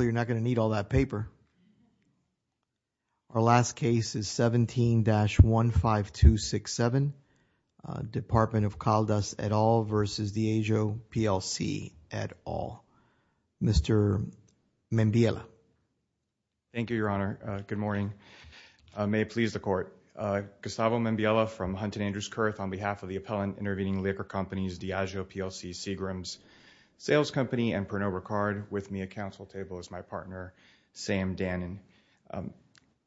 here in December. Our last case is 17-15267, Department of Caldas et al. versus Diageo PLC et al. Mr. Membiela. Thank you, Your Honor. Good morning. May it please the Court. Gustavo Membiela from Hunt & Andrews Kurth on behalf of the appellant intervening liquor companies Diageo PLC, Seagrams Sales Company, and Pernod Ricard. With me at counsel table is my partner, Sam Dannen.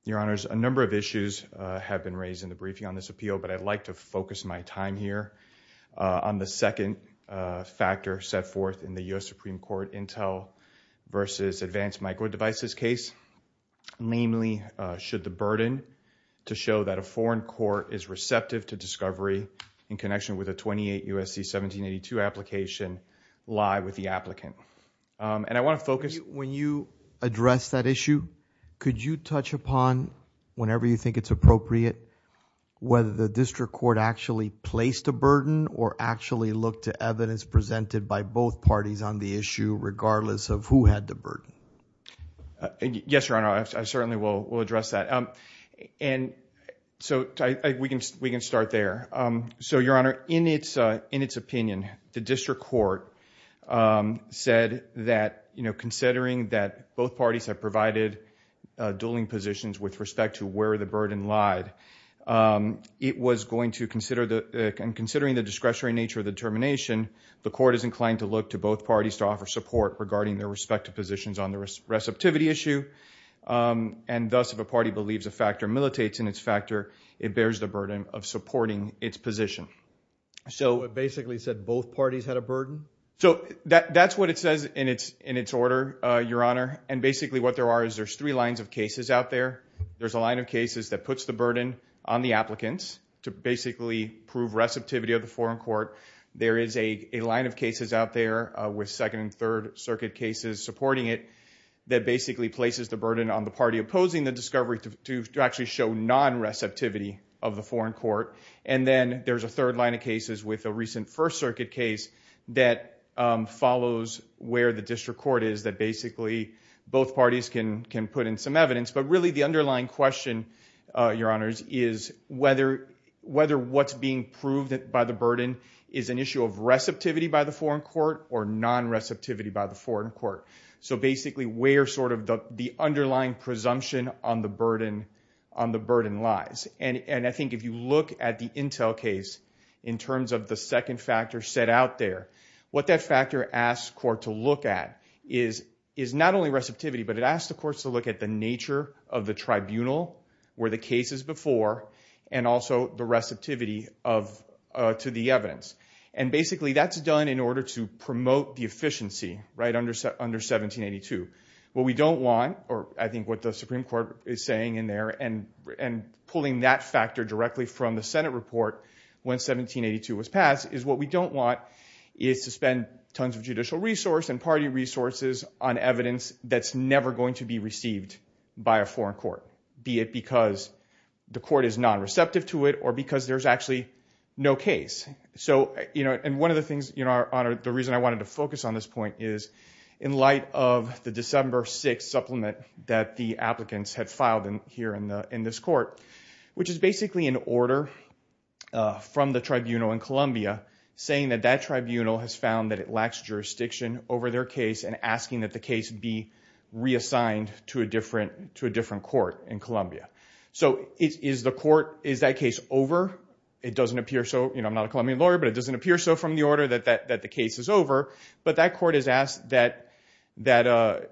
Your Honors, a number of issues have been raised in the briefing on this appeal, but I'd like to focus my time here on the second factor set forth in the U.S. Supreme Court Intel versus Advanced Micro Devices case, namely, should the burden to show that a foreign court is receptive to discovery in connection with a 28 U.S.C. 1782 application lie with the applicant. And I want to focus... When you address that issue, could you touch upon, whenever you think it's appropriate, whether the district court actually placed a burden or actually looked to evidence presented by both parties on the issue, regardless of who had the burden? Yes, Your Honor, I certainly will address that. And so, we can start there. So, Your Honor, in its opinion, the district court said that, you know, considering that both parties have provided dueling positions with respect to where the burden lied, it was going to consider the... and considering the discretionary nature of the determination, the court is inclined to look to both parties to offer support regarding their respective positions on the receptivity issue. And thus, if a party believes a factor militates in its factor, it bears the burden of supporting its position. So, it basically said both parties had a burden? So, that's what it says in its order, Your Honor. And basically, what there are is there's three lines of cases out there. There's a line of cases that puts the burden on the applicants to basically prove receptivity of the foreign court. There is a line of cases out there with Second and Third Circuit cases supporting it that basically places the burden on the party opposing the discovery to actually show non-receptivity of the foreign court. And then, there's a third line of cases with a recent First Circuit case that follows where the district court is that basically both parties can put in some evidence. But really, the underlying question, Your Honors, is whether what's being proved by the burden is an issue of receptivity by the foreign court or non-receptivity by the foreign court. So, basically, where sort of the underlying presumption on the burden lies. And I think if you look at the Intel case in terms of the second factor set out there, what that factor asks court to look at is not only receptivity, but it asks the courts to look at the nature of the tribunal where the case is before and also the receptivity to the evidence. And basically, that's done in order to promote the efficiency, right, under 1782. What we don't want, or I think what the Supreme Court is saying in there and pulling that factor directly from the Senate report when 1782 was passed, is what we don't want is to spend tons of judicial resource and party resources on evidence that's never going to be received by a foreign court, be it because the court is non-receptive to it or because there's actually no case. So, you know, and one of the things, Your Honor, the reason I wanted to focus on this point is in light of the December 6 supplement that the applicants had filed here in this court, which is basically an order from the tribunal in Columbia saying that that tribunal has found that it lacks jurisdiction over their case and asking that the case be reassigned to a different court in Columbia. So is the court, is that case over? It doesn't appear so. You know, I'm not a Colombian lawyer, but it doesn't appear so from the order that the court has asked that, that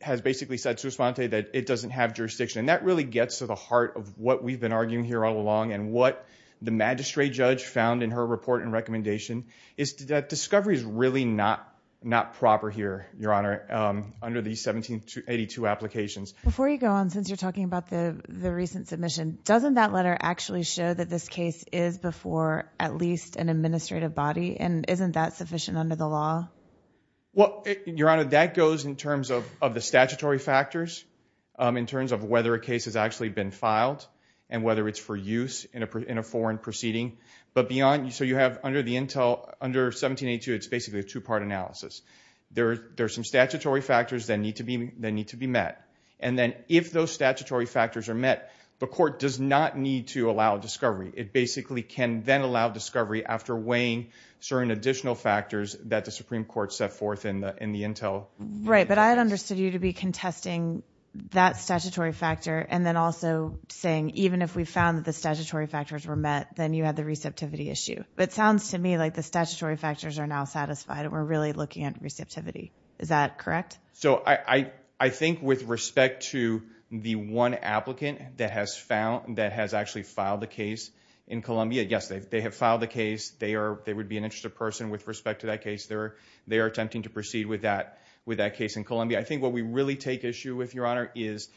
has basically said to Esponte that it doesn't have jurisdiction. And that really gets to the heart of what we've been arguing here all along and what the magistrate judge found in her report and recommendation is that discovery is really not proper here, Your Honor, under the 1782 applications. Before you go on, since you're talking about the recent submission, doesn't that letter actually show that this case is before at least an administrative body and isn't that Well, Your Honor, that goes in terms of the statutory factors, in terms of whether a case has actually been filed and whether it's for use in a foreign proceeding. But beyond, so you have under the intel, under 1782, it's basically a two-part analysis. There's some statutory factors that need to be met. And then if those statutory factors are met, the court does not need to allow discovery. It basically can then allow discovery after weighing certain additional factors that the forth in the intel. Right. But I had understood you to be contesting that statutory factor and then also saying even if we found that the statutory factors were met, then you had the receptivity issue. It sounds to me like the statutory factors are now satisfied and we're really looking at receptivity. Is that correct? So I think with respect to the one applicant that has found, that has actually filed the case in Columbia, yes, they have filed the case. They would be an interested person with respect to that case. They are attempting to proceed with that case in Columbia. I think what we really take issue with, Your Honor, is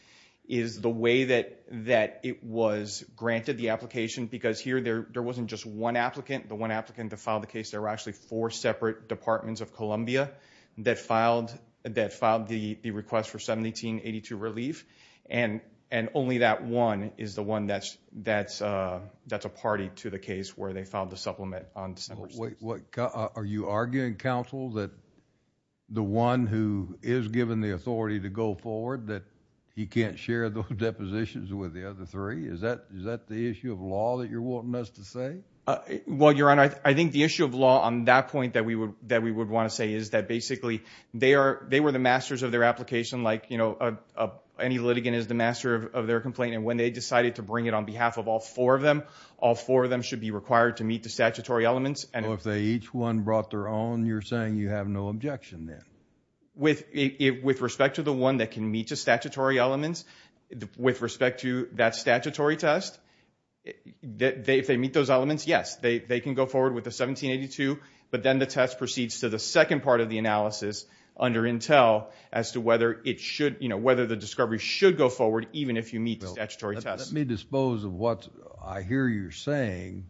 the way that it was granted, the application, because here there wasn't just one applicant. The one applicant that filed the case, there were actually four separate departments of Columbia that filed the request for 1782 relief. And only that one is the one that's a party to the case where they filed the supplement on December 16th. Wait, are you arguing, counsel, that the one who is given the authority to go forward, that he can't share those depositions with the other three? Is that the issue of law that you're wanting us to say? Well, Your Honor, I think the issue of law on that point that we would want to say is that basically they were the masters of their application, like any litigant is the master of their complaint. And when they decided to bring it on behalf of all four of them, all four of them should be required to meet the statutory elements. So if each one brought their own, you're saying you have no objection then? With respect to the one that can meet the statutory elements, with respect to that statutory test, if they meet those elements, yes, they can go forward with the 1782, but then the test proceeds to the second part of the analysis under Intel as to whether the discovery should go forward even if you meet the statutory test. Let me dispose of what I hear you're saying,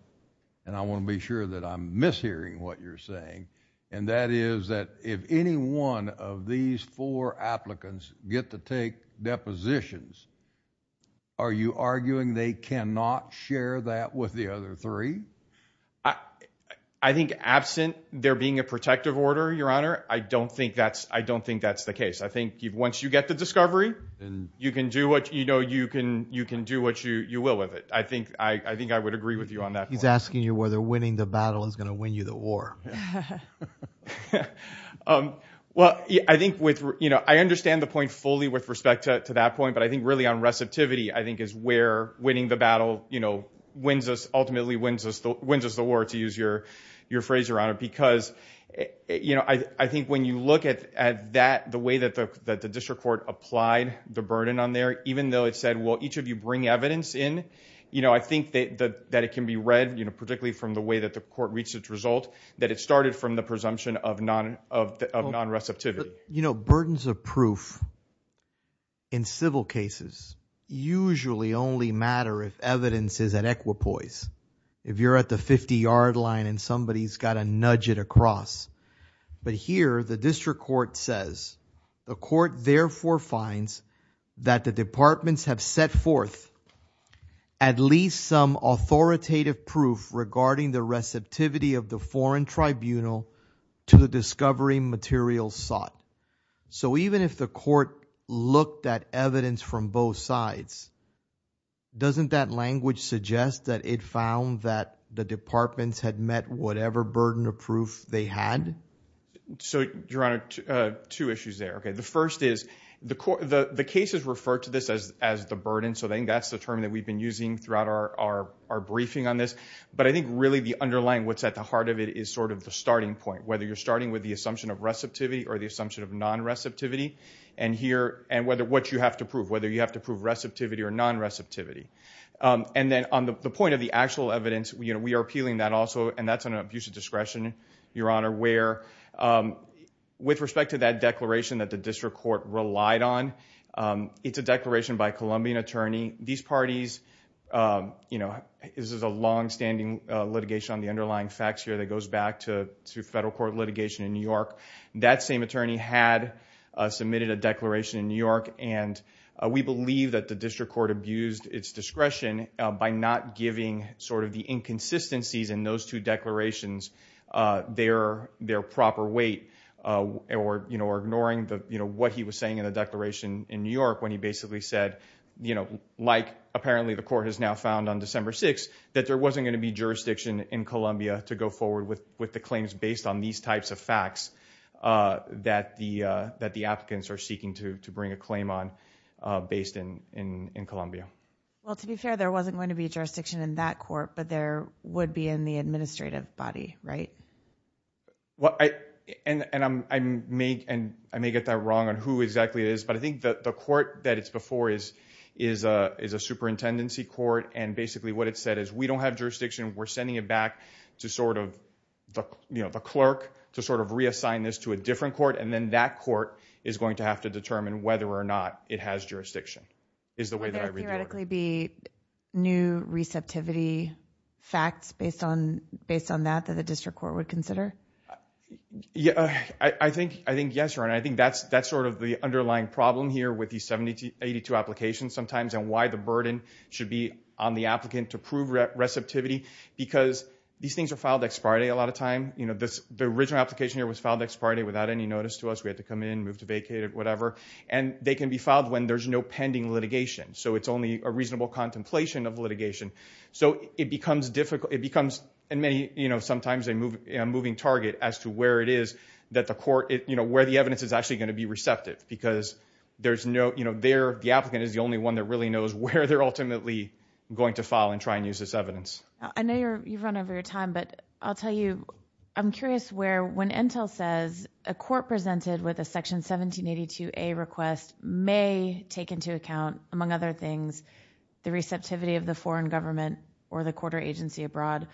and I want to be sure that I'm mishearing what you're saying, and that is that if any one of these four applicants get to take depositions, are you arguing they cannot share that with the other three? I think absent there being a protective order, Your Honor, I don't think that's the case. I think once you get the discovery, you can do what you will with it. I think I would agree with you on that point. He's asking you whether winning the battle is going to win you the war. Well, I think with, you know, I understand the point fully with respect to that point, but I think really on receptivity I think is where winning the battle, you know, ultimately wins us the war, to use your phrase, Your Honor, because, you know, I think when you look at that, the way that the district court applied the burden on there, even though it said, well, each of you bring evidence in, you know, I think that it can be read, you know, particularly from the way that the court reached its result, that it started from the presumption of non-receptivity. You know, burdens of proof in civil cases usually only matter if evidence is at equipoise. If you're at the 50-yard line and somebody's got to nudge it across. But here, the district court says, the court therefore finds that the departments have set forth at least some authoritative proof regarding the receptivity of the foreign tribunal to the discovery materials sought. So even if the court looked at evidence from both sides, doesn't that language suggest that it found that the departments had met whatever burden of proof they had? So, Your Honor, two issues there. Okay. The first is, the cases refer to this as the burden, so I think that's the term that we've been using throughout our briefing on this. But I think really the underlying, what's at the heart of it, is sort of the starting point, whether you're starting with the assumption of receptivity or the assumption of non-receptivity. And here, and what you have to prove, whether you have to prove receptivity or non-receptivity. And then, on the point of the actual evidence, we are appealing that also, and that's an abuse of discretion, Your Honor, where, with respect to that declaration that the district court relied on, it's a declaration by a Colombian attorney. These parties, you know, this is a longstanding litigation on the underlying facts here that goes back to federal court litigation in New York. That same attorney had submitted a declaration in New York, and we believe that the district court abused its discretion by not giving sort of the inconsistencies in those two declarations their proper weight, or, you know, ignoring what he was saying in the declaration in New York when he basically said, you know, like apparently the court has now found on December 6th, that there wasn't going to be jurisdiction in Colombia to go forward with the claims based on these types of facts that the applicants are seeking to bring a claim on based in Colombia. Well, to be fair, there wasn't going to be jurisdiction in that court, but there would be in the administrative body, right? And I may get that wrong on who exactly it is, but I think that the court that it's before is a superintendency court, and basically what it said is, we don't have jurisdiction, we're sending it back to sort of, you know, the clerk to sort of reassign this to a different court, and then that court is going to have to determine whether or not it has jurisdiction, is the way that I read that. Would there theoretically be new receptivity facts based on that, that the district court would consider? I think, yes, Your Honor. I think that's sort of the underlying problem here with these 72, 82 applications sometimes and why the burden should be on the applicant to prove receptivity, because these things are filed ex parte a lot of time, you know, the original application here was filed ex parte, we had to come in, move to vacate it, whatever, and they can be filed when there's no pending litigation, so it's only a reasonable contemplation of litigation. So it becomes difficult, it becomes in many, you know, sometimes a moving target as to where it is that the court, you know, where the evidence is actually going to be receptive, because there's no, you know, the applicant is the only one that really knows where they're ultimately going to file and try and use this evidence. I know you've run over your time, but I'll tell you, I'm curious where, when Intel says a court presented with a Section 1782A request may take into account, among other things, the receptivity of the foreign government or the court or agency abroad,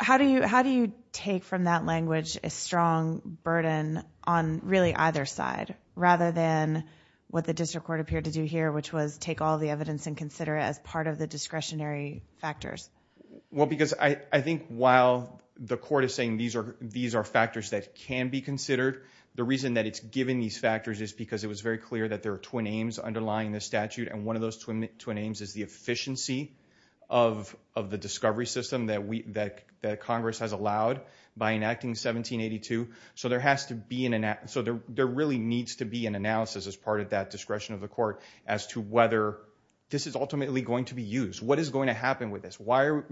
how do you take from that language a strong burden on really either side, rather than what the district court appeared to do here, which was take all the evidence and consider it as part of the discretionary factors? Well, because I think while the court is saying these are factors that can be considered, the reason that it's given these factors is because it was very clear that there are twin aims underlying this statute, and one of those twin aims is the efficiency of the discovery system that Congress has allowed by enacting 1782. So there has to be an, so there really needs to be an analysis as part of that discretion of the court as to whether this is ultimately going to be used. What is going to happen with this? Why are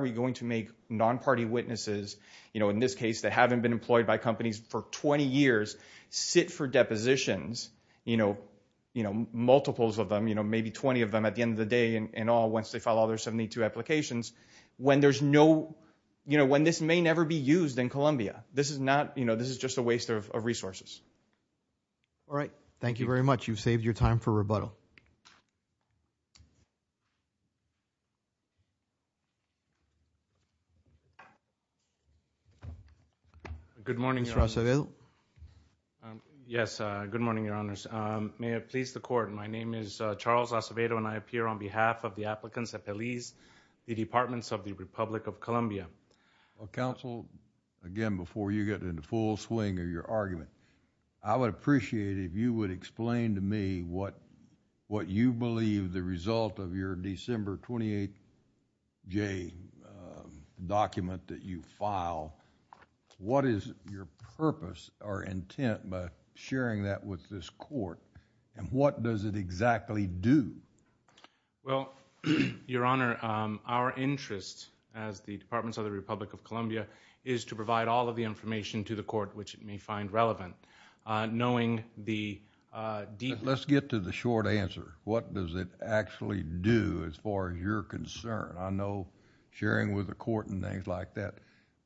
we going to make non-party witnesses, in this case that haven't been employed by companies for 20 years, sit for depositions, multiples of them, maybe 20 of them at the end of the day in all, once they file all their 1782 applications, when there's no, when this may never be used in Columbia? This is not, this is just a waste of resources. All right. Thank you very much. You've saved your time for rebuttal. Mr. Acevedo? Yes. Good morning, Your Honors. May it please the Court, my name is Charles Acevedo, and I appear on behalf of the applicants at PELIS, the Departments of the Republic of Columbia. Well, Counsel, again, before you get in the full swing of your argument, I would appreciate it if you would explain to me what you believe the result of your December 28 J document that you file, what is your purpose or intent by sharing that with this court, and what does it exactly do? Well, Your Honor, our interest as the Departments of the Republic of Columbia is to provide all of the information to the court which it may find relevant, knowing the... Let's get to the short answer. What does it actually do as far as your concern? I know sharing with the court and things like that,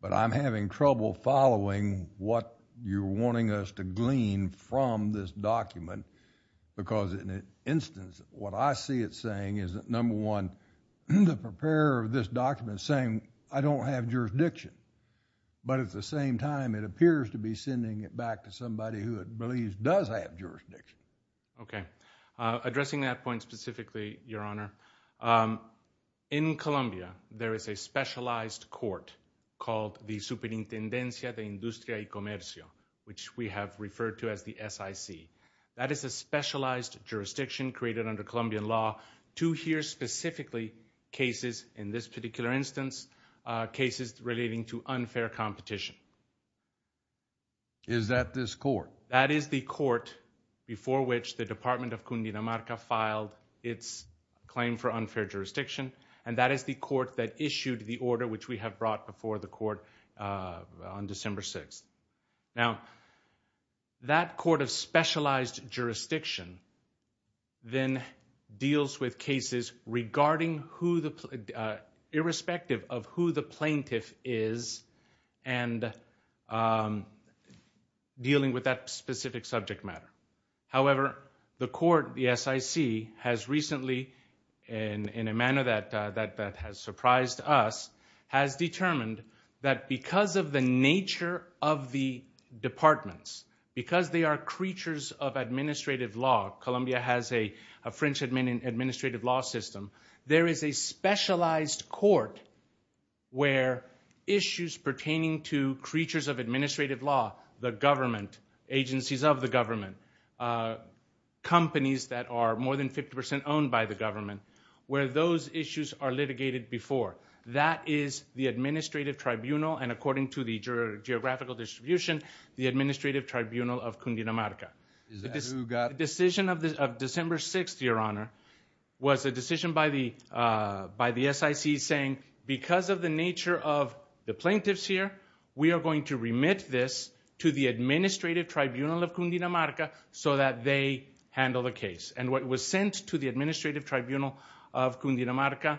but I'm having trouble following what you're wanting us to glean from this document, because in an instance, what I see it saying is that, number one, the preparer of this document is saying, I don't have jurisdiction, but at the same time, it appears to be sending it back to somebody who it believes does have jurisdiction. Okay. Addressing that point specifically, Your Honor, in Columbia, there is a specialized court called the Superintendencia de Industria y Comercio, which we have referred to as the SIC. That is a specialized jurisdiction created under Colombian law to hear specifically cases, in this particular instance, cases relating to unfair competition. Is that this court? That is the court before which the Department of Cundinamarca filed its claim for unfair jurisdiction, and that is the court that issued the order which we have brought before the court on December 6th. Now, that court of specialized jurisdiction then deals with cases regarding who the, irrespective of who the plaintiff is, and dealing with that specific subject matter. However, the court, the SIC, has recently, in a manner that has surprised us, has determined that because of the nature of the departments, because they are creatures of administrative law, Columbia has a French administrative law system, there is a specialized court where issues pertaining to creatures of administrative law, the government, agencies of the government, companies that are more than 50 percent owned by the government, where those issues are litigated before. That is the administrative tribunal, and according to the geographical distribution, the administrative tribunal of Cundinamarca. The decision of December 6th, your honor, was a decision by the SIC saying, because of the nature of the plaintiffs here, we are going to remit this to the administrative tribunal of Cundinamarca so that they handle the case. What was sent to the administrative tribunal of Cundinamarca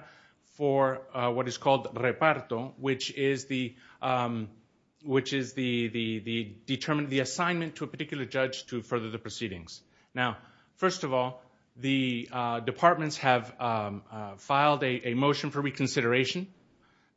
for what is called reparto, which is the assignment to a particular judge to further the proceedings. First of all, the departments have filed a motion for reconsideration.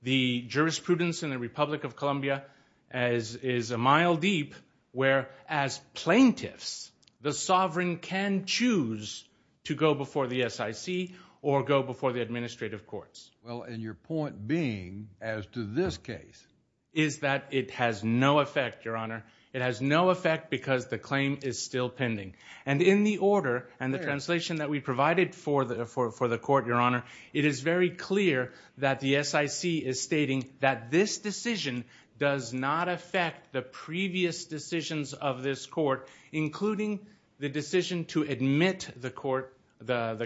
The jurisprudence in the Republic of Columbia is a mile deep where, as plaintiffs, the sovereign can choose to go before the SIC or go before the administrative courts. Well, and your point being as to this case? Is that it has no effect, your honor. It has no effect because the claim is still pending. And in the order and the translation that we provided for the court, your honor, it is very clear that the SIC is stating that this decision does not affect the previous decisions of this court, including the decision to admit the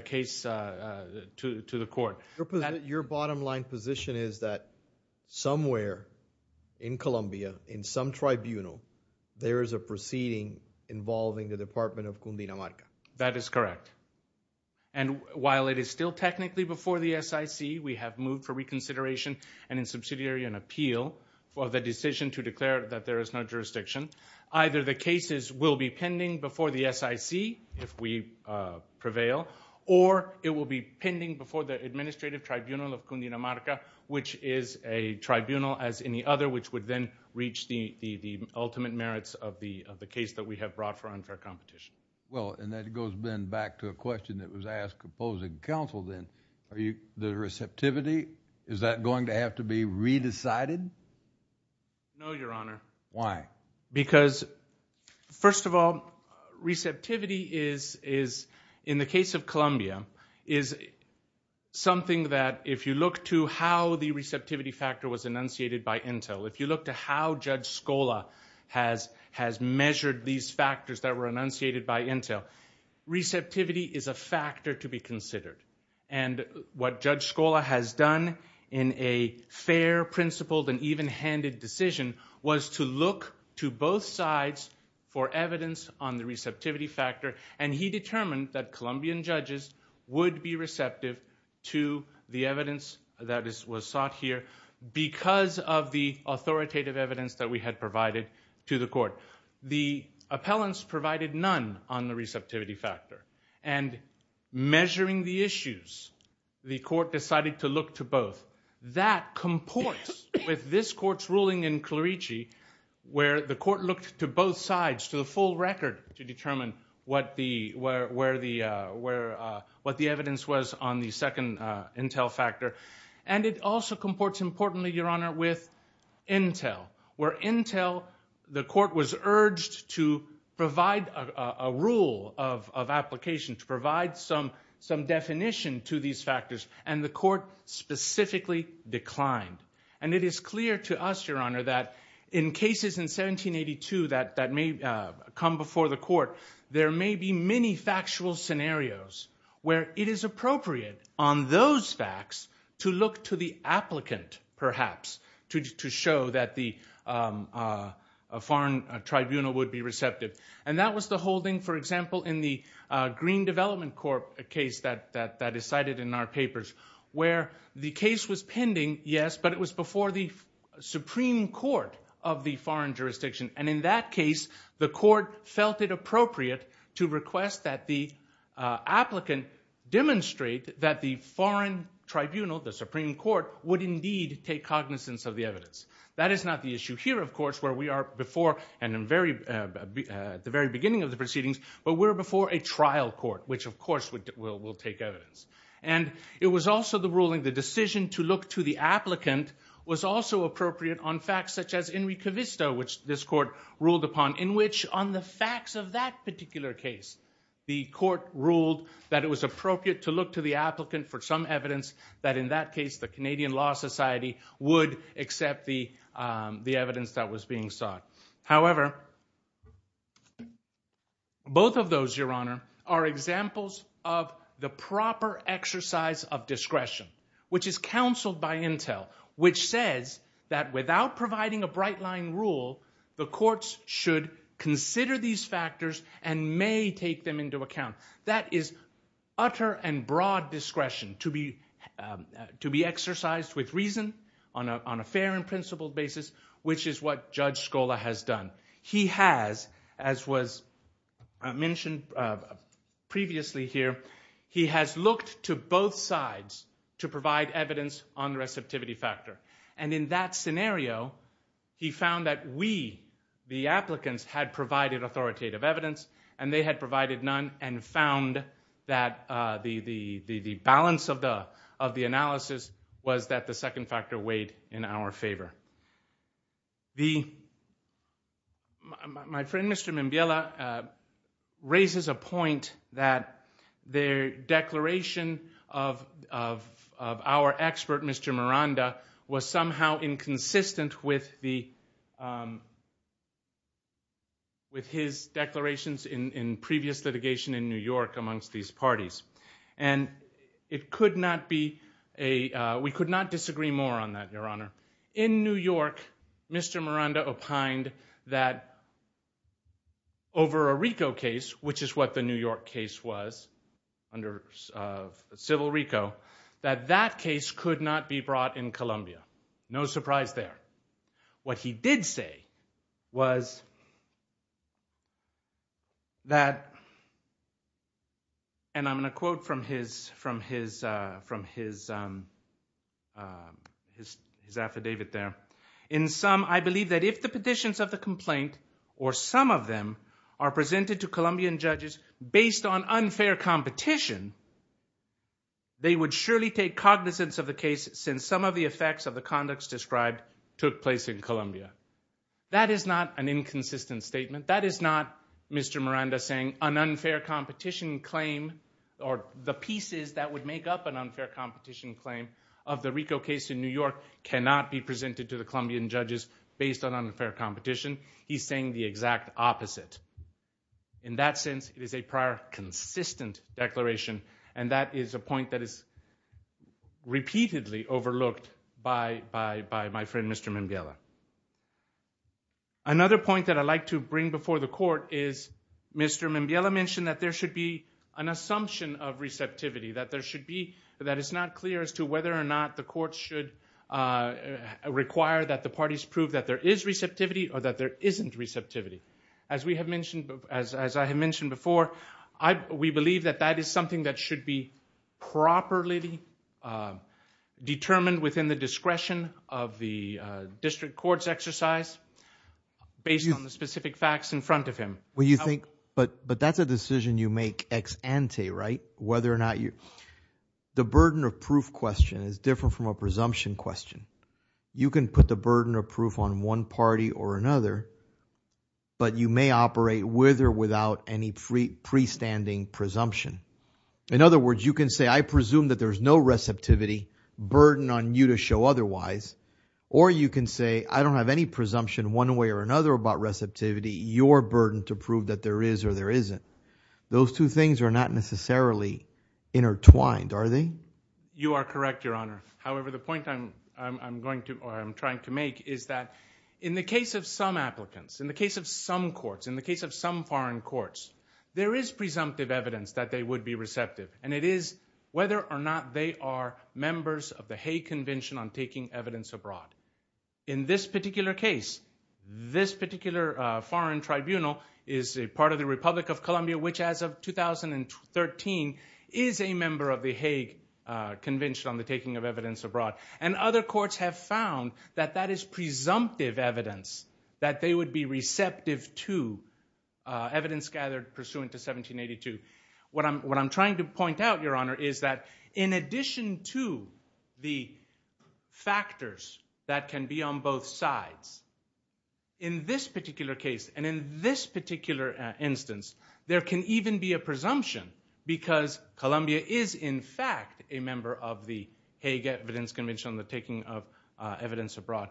case to the court. Your bottom line position is that somewhere in Columbia, in some tribunal, there is a proceeding involving the Department of Cundinamarca. That is correct. And while it is still technically before the SIC, we have moved for reconsideration and subsidiary and appeal for the decision to declare that there is no jurisdiction. Either the cases will be pending before the SIC, if we prevail, or it will be pending before the administrative tribunal of Cundinamarca, which is a tribunal as any other, which would then reach the ultimate merits of the case that we have brought for unfair competition. Well, and that goes then back to a question that was asked opposing counsel then. The receptivity, is that going to have to be re-decided? No, your honor. Why? Because, first of all, receptivity is, in the case of Columbia, is something that if you look to how the receptivity factor was enunciated by intel, if you look to how Judge Scola has measured these factors that were enunciated by intel, receptivity is a factor to be considered. And what Judge Scola has done in a fair, principled, and even-handed decision was to look to both sides for evidence on the receptivity factor, and he determined that Colombian judges would be receptive to the evidence that was sought here because of the authoritative evidence that we had provided to the court. The appellants provided none on the receptivity factor, and measuring the issues, the court decided to look to both. That comports with this court's ruling in Clerici, where the court looked to both sides, to the full record, to determine what the evidence was on the second intel factor. And it also comports, importantly, your honor, with intel, where intel, the court was urged to provide a rule of application, to provide some definition to these factors, and the court specifically declined. And it is clear to us, your honor, that in cases in 1782 that may come before the court, there may be many factual scenarios where it is appropriate on those facts to look to the applicant, perhaps, to show that the foreign tribunal would be receptive. And that was the holding, for example, in the Green Development Corp case that is cited in our papers, where the case was pending, yes, but it was before the Supreme Court of the foreign jurisdiction, and in that case, the court felt it appropriate to request that the applicant demonstrate that the foreign tribunal, the Supreme Court, would indeed take cognizance of the evidence. That is not the issue here, of course, where we are before and at the very beginning of the proceedings, but we're before a trial court, which, of course, will take evidence. And it was also the ruling, the decision to look to the applicant was also appropriate on facts such as Enrico Visto, which this court ruled upon, in which, on the facts of that particular case, the court ruled that it was appropriate to look to the applicant for some evidence that, in that case, the Canadian Law Society would accept the evidence that was being sought. However, both of those, your honor, are examples of the proper exercise of discretion, which is counseled by intel, which says that without providing a bright line rule, the courts should consider these factors and may take them into account. That is utter and broad discretion to be exercised with reason on a fair and principled basis, which is what Judge Scola has done. He has, as was mentioned previously here, he has looked to both sides to provide evidence on the receptivity factor. And in that scenario, he found that we, the applicants, had provided authoritative evidence and they had provided none and found that the balance of the analysis was that the second factor weighed in our favor. My friend, Mr. Mimbiella, raises a point that the declaration of our expert, Mr. Miranda, was somehow inconsistent with his declarations in previous litigation in New York amongst these parties. And it could not be, we could not disagree more on that, your honor. In New York, Mr. Miranda opined that over a RICO case, which is what the New York case was under civil RICO, that that case could not be brought in Columbia. No surprise there. What he did say was that, and I'm going to quote from his affidavit there, in some, I believe that if the petitions of the complaint or some of them are presented to Colombian judges based on unfair competition, they would surely take cognizance of the case since some of the effects of the conducts described took place in Columbia. That is not an inconsistent statement. That is not Mr. Miranda saying an unfair competition claim or the pieces that would make up an unfair competition claim of the RICO case in New York cannot be presented to the Colombian judges based on unfair competition. He's saying the exact opposite. In that sense, it is a prior consistent declaration and that is a point that is repeatedly overlooked by my friend, Mr. Mimbiela. Another point that I'd like to bring before the court is Mr. Mimbiela mentioned that there should be an assumption of receptivity, that there should be, that it's not clear as to whether or not the court should require that the parties prove that there is receptivity or that there isn't receptivity. As we have mentioned, as I have mentioned before, we believe that that is something that should be properly determined within the discretion of the district court's exercise based on the specific facts in front of him. When you think, but that's a decision you make ex ante, right? Whether or not you, the burden of proof question is different from a presumption question. You can put the burden of proof on one party or another, but you may operate with or without any free pre-standing presumption. In other words, you can say, I presume that there's no receptivity burden on you to show otherwise or you can say, I don't have any presumption one way or another about receptivity, your burden to prove that there is or there isn't. Those two things are not necessarily intertwined, are they? You are correct, Your Honor. However, the point I'm going to, or I'm trying to make is that in the case of some applicants, in the case of some courts, in the case of some foreign courts, there is presumptive evidence that they would be receptive and it is whether or not they are members of the Hague Convention on Taking Evidence Abroad. In this particular case, this particular foreign tribunal is a part of the Republic of Columbia, which as of 2013 is a member of the Hague Convention on the Taking of Evidence Abroad and other courts have found that that is presumptive evidence, that they would be receptive to evidence gathered pursuant to 1782. What I'm trying to point out, Your Honor, is that in addition to the factors that can be on both sides, in this particular case and in this particular instance, there can even be a presumption because Columbia is in fact a member of the Hague Evidence Convention on the Taking of Evidence Abroad.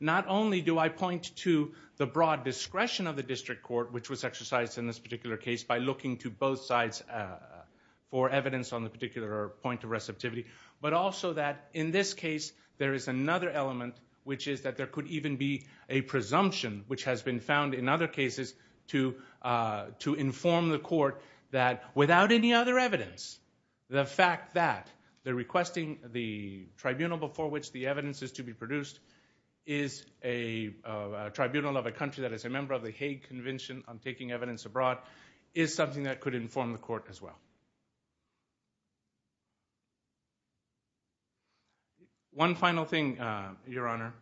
Not only do I point to the broad discretion of the district court, which was exercised in this particular case by looking to both sides for evidence on the particular point of receptivity, but also that in this case there is another element, which is that there could even be a presumption, which has been found in other cases to inform the court that without any other evidence, the fact that they're requesting the tribunal before which the evidence is to be produced is a tribunal of a country that is a member of the Hague Convention on Taking Evidence Abroad, is something that could inform the court as well. One final thing, Your Honor,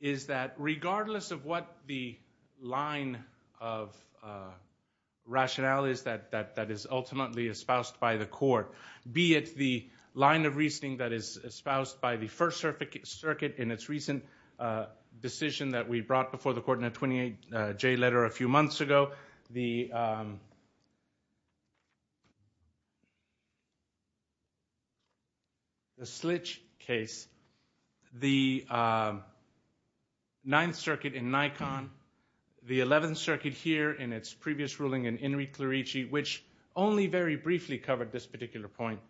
is that regardless of what the line of rationale is that is ultimately espoused by the court, be it the line of reasoning that is espoused by the First Circuit in its recent decision that we brought before the Court in a 28-J letter a few months ago, the Slitch case, the Ninth Circuit in Nikon, the Eleventh Circuit here in its previous ruling in Enrique Clerici, which only very briefly covered this particular point,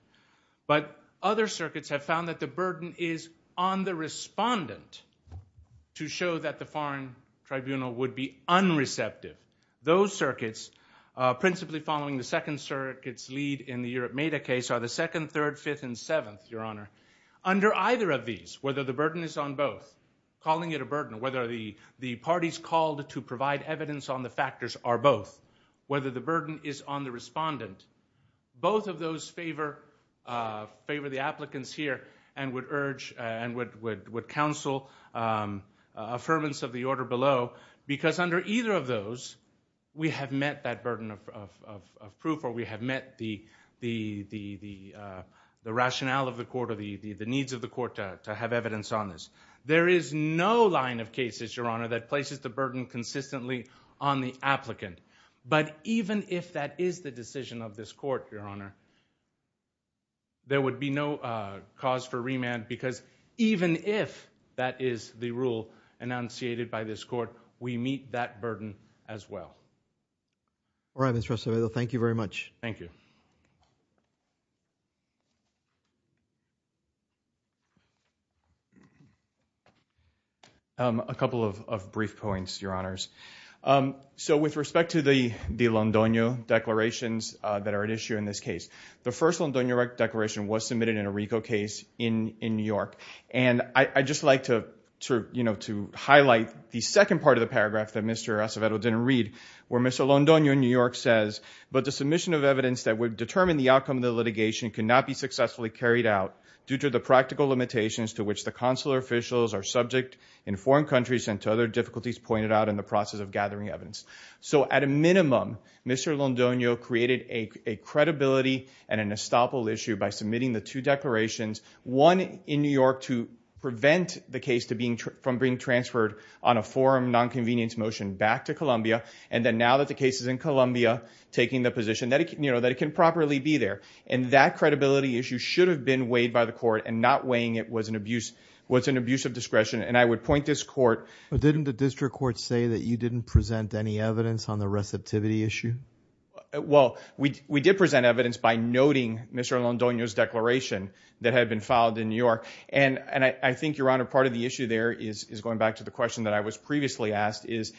but other circuits have found that the burden is on the respondent to show that the foreign tribunal would be unreceptive. Those circuits, principally following the Second Circuit's lead in the Europe Meta case are the Second, Third, Fifth, and Seventh, Your Honor. Under either of these, whether the burden is on both, calling it a burden, whether the parties called to provide evidence on the factors are both, whether the burden is on the respondent, both of those favor the applicants here and would urge and would counsel affirmance of the order below because under either of those, we have met that burden of proof or we have met the rationale of the court or the needs of the court to have evidence on this. There is no line of cases, Your Honor, that places the burden consistently on the applicant. But even if that is the decision of this court, Your Honor, there would be no cause for remand because even if that is the rule enunciated by this court, we meet that burden as well. All right, Mr. Restovedo, thank you very much. Thank you. A couple of brief points, Your Honors. With respect to the Londoño declarations that are at issue in this case, the first Londoño declaration was submitted in a RICO case in New York. I'd just like to highlight the second part of the paragraph that Mr. Restovedo didn't read where Mr. Londoño in New York says, but the submission of evidence that would determine the outcome of the litigation cannot be successfully carried out due to the practical limitations to which the consular officials are subject in foreign countries and to other processes of gathering evidence. So at a minimum, Mr. Londoño created a credibility and an estoppel issue by submitting the two declarations, one in New York to prevent the case from being transferred on a forum non-convenience motion back to Colombia, and then now that the case is in Colombia, taking the position that it can properly be there, and that credibility issue should have been weighed by the court and not weighing it was an abuse of discretion, and I would point this court... You didn't present any evidence on the receptivity issue? Well, we did present evidence by noting Mr. Londoño's declaration that had been filed in New York, and I think, Your Honor, part of the issue there is going back to the question that I was previously asked is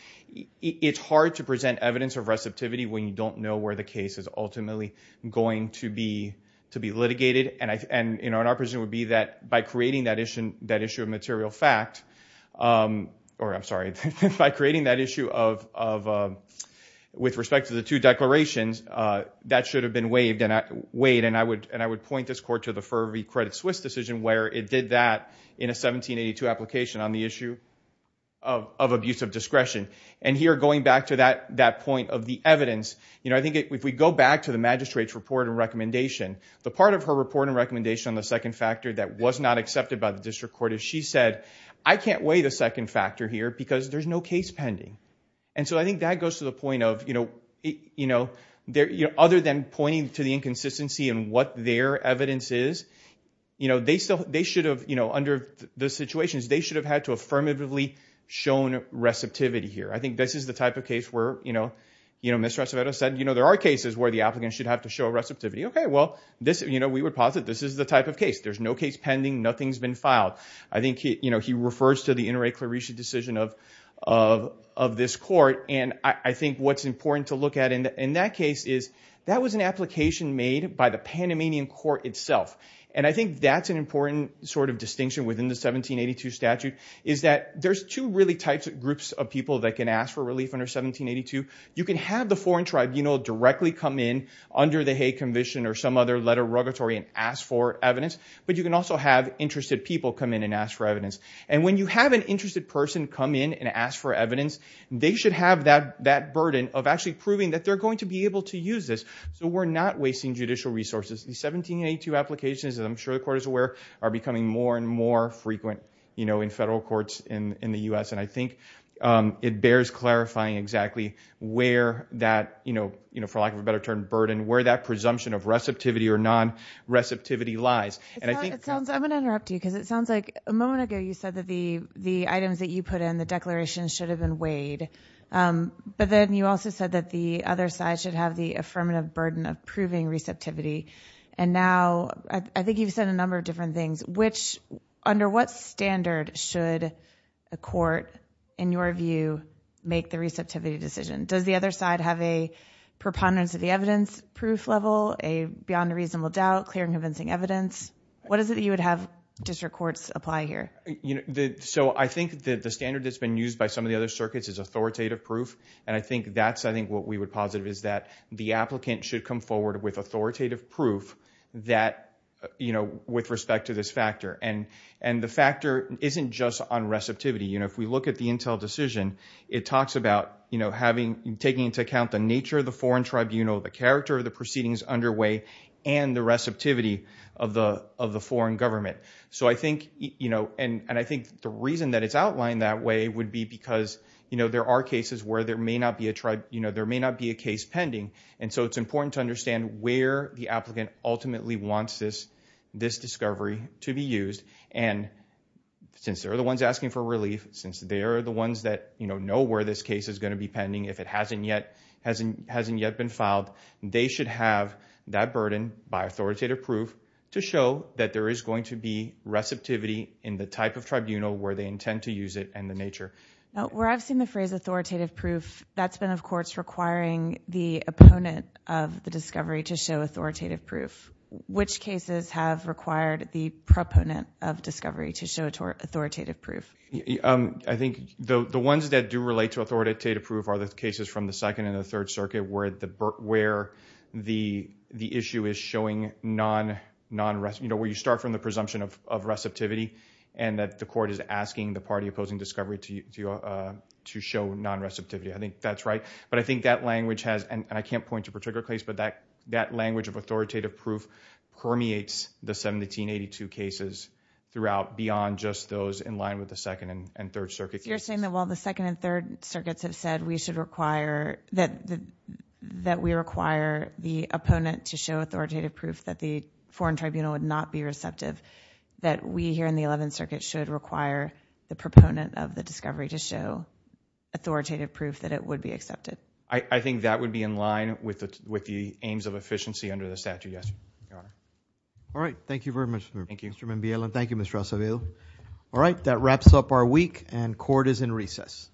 it's hard to present evidence of receptivity when you don't know where the case is ultimately going to be litigated, and our position would be that by creating that issue of material fact... or, I'm sorry, by creating that issue of... with respect to the two declarations, that should have been weighed, and I would point this court to the Fervey Credit Swiss decision where it did that in a 1782 application on the issue of abuse of discretion. And here, going back to that point of the evidence, I think if we go back to the magistrate's report and recommendation, the part of her report and recommendation on the second factor that was not accepted by the district court is she said, I can't weigh the second factor here because there's no case pending. And so I think that goes to the point of, you know, other than pointing to the inconsistency in what their evidence is, you know, they should have, you know, under the situations, they should have had to affirmatively shown receptivity here. I think this is the type of case where, you know, Ms. Rosavero said, you know, there are cases where the applicant should have to show receptivity. Okay, well, this, you know, we would posit this is the type of case. There's no case pending. Nothing's been filed. I think, you know, he refers to the Inter Re Clarice decision of this court. And I think what's important to look at in that case is that was an application made by the Panamanian court itself. And I think that's an important sort of distinction within the 1782 statute is that there's two really types of groups of people that can ask for relief under 1782. You can have the foreign tribunal directly come in under the Hay Commission or some other letter of regulatory and ask for evidence, but you can also have interested people come in and ask for evidence. And when you have an interested person come in and ask for evidence, they should have that burden of actually proving that they're going to be able to use this so we're not wasting judicial resources. The 1782 applications, as I'm sure the court is aware, are becoming more and more frequent, you know, in federal courts in the U.S. And I think it bears clarifying exactly where that, you know, you know, for lack of a better term, burden, where that presumption of receptivity or non-receptivity lies. And I think... It sounds... I'm going to interrupt you because it sounds like a moment ago you said that the items that you put in, the declarations, should have been weighed, but then you also said that the other side should have the affirmative burden of proving receptivity. And now I think you've said a number of different things, which... Under what standard should a court, in your view, make the receptivity decision? Does the other side have a preponderance of the evidence proof level, a beyond a reasonable doubt, clear and convincing evidence? What is it that you would have district courts apply here? So I think that the standard that's been used by some of the other circuits is authoritative proof, and I think that's, I think, what we would positive is that the applicant should come forward with authoritative proof that, you know, with respect to this factor. And the factor isn't just on receptivity, you know, if we look at the Intel decision, it talks about, you know, taking into account the nature of the foreign tribunal, the character of the proceedings underway, and the receptivity of the foreign government. So I think, you know, and I think the reason that it's outlined that way would be because, you know, there are cases where there may not be a tribe, you know, there may not be a case pending. And so it's important to understand where the applicant ultimately wants this discovery to be used, and since they're the ones asking for relief, since they're the ones that, you know, know where this case is going to be pending, if it hasn't yet, hasn't, hasn't yet been filed, they should have that burden by authoritative proof to show that there is going to be receptivity in the type of tribunal where they intend to use it, and the nature. Now, where I've seen the phrase authoritative proof, that's been, of course, requiring the opponent of the discovery to show authoritative proof. Which cases have required the proponent of discovery to show authoritative proof? I think the ones that do relate to authoritative proof are the cases from the Second and the Third Circuit where the issue is showing non-receptivity, you know, where you start from the presumption of receptivity, and that the court is asking the party opposing discovery to show non-receptivity. I think that's right. But I think that language has, and I can't point to a particular case, but that language of authoritative proof permeates the 1782 cases throughout, beyond just those in line with the Second and Third Circuit cases. You're saying that while the Second and Third Circuits have said we should require, that we require the opponent to show authoritative proof that the foreign tribunal would not be receptive, that we here in the Eleventh Circuit should require the proponent of the discovery to show authoritative proof that it would be accepted? I think that would be in line with the aims of efficiency under the statute, yes, Your Honor. All right. Thank you very much, Mr. Mimbiela. Thank you, Mr. Acevedo. All right. That wraps up our week, and court is in recess.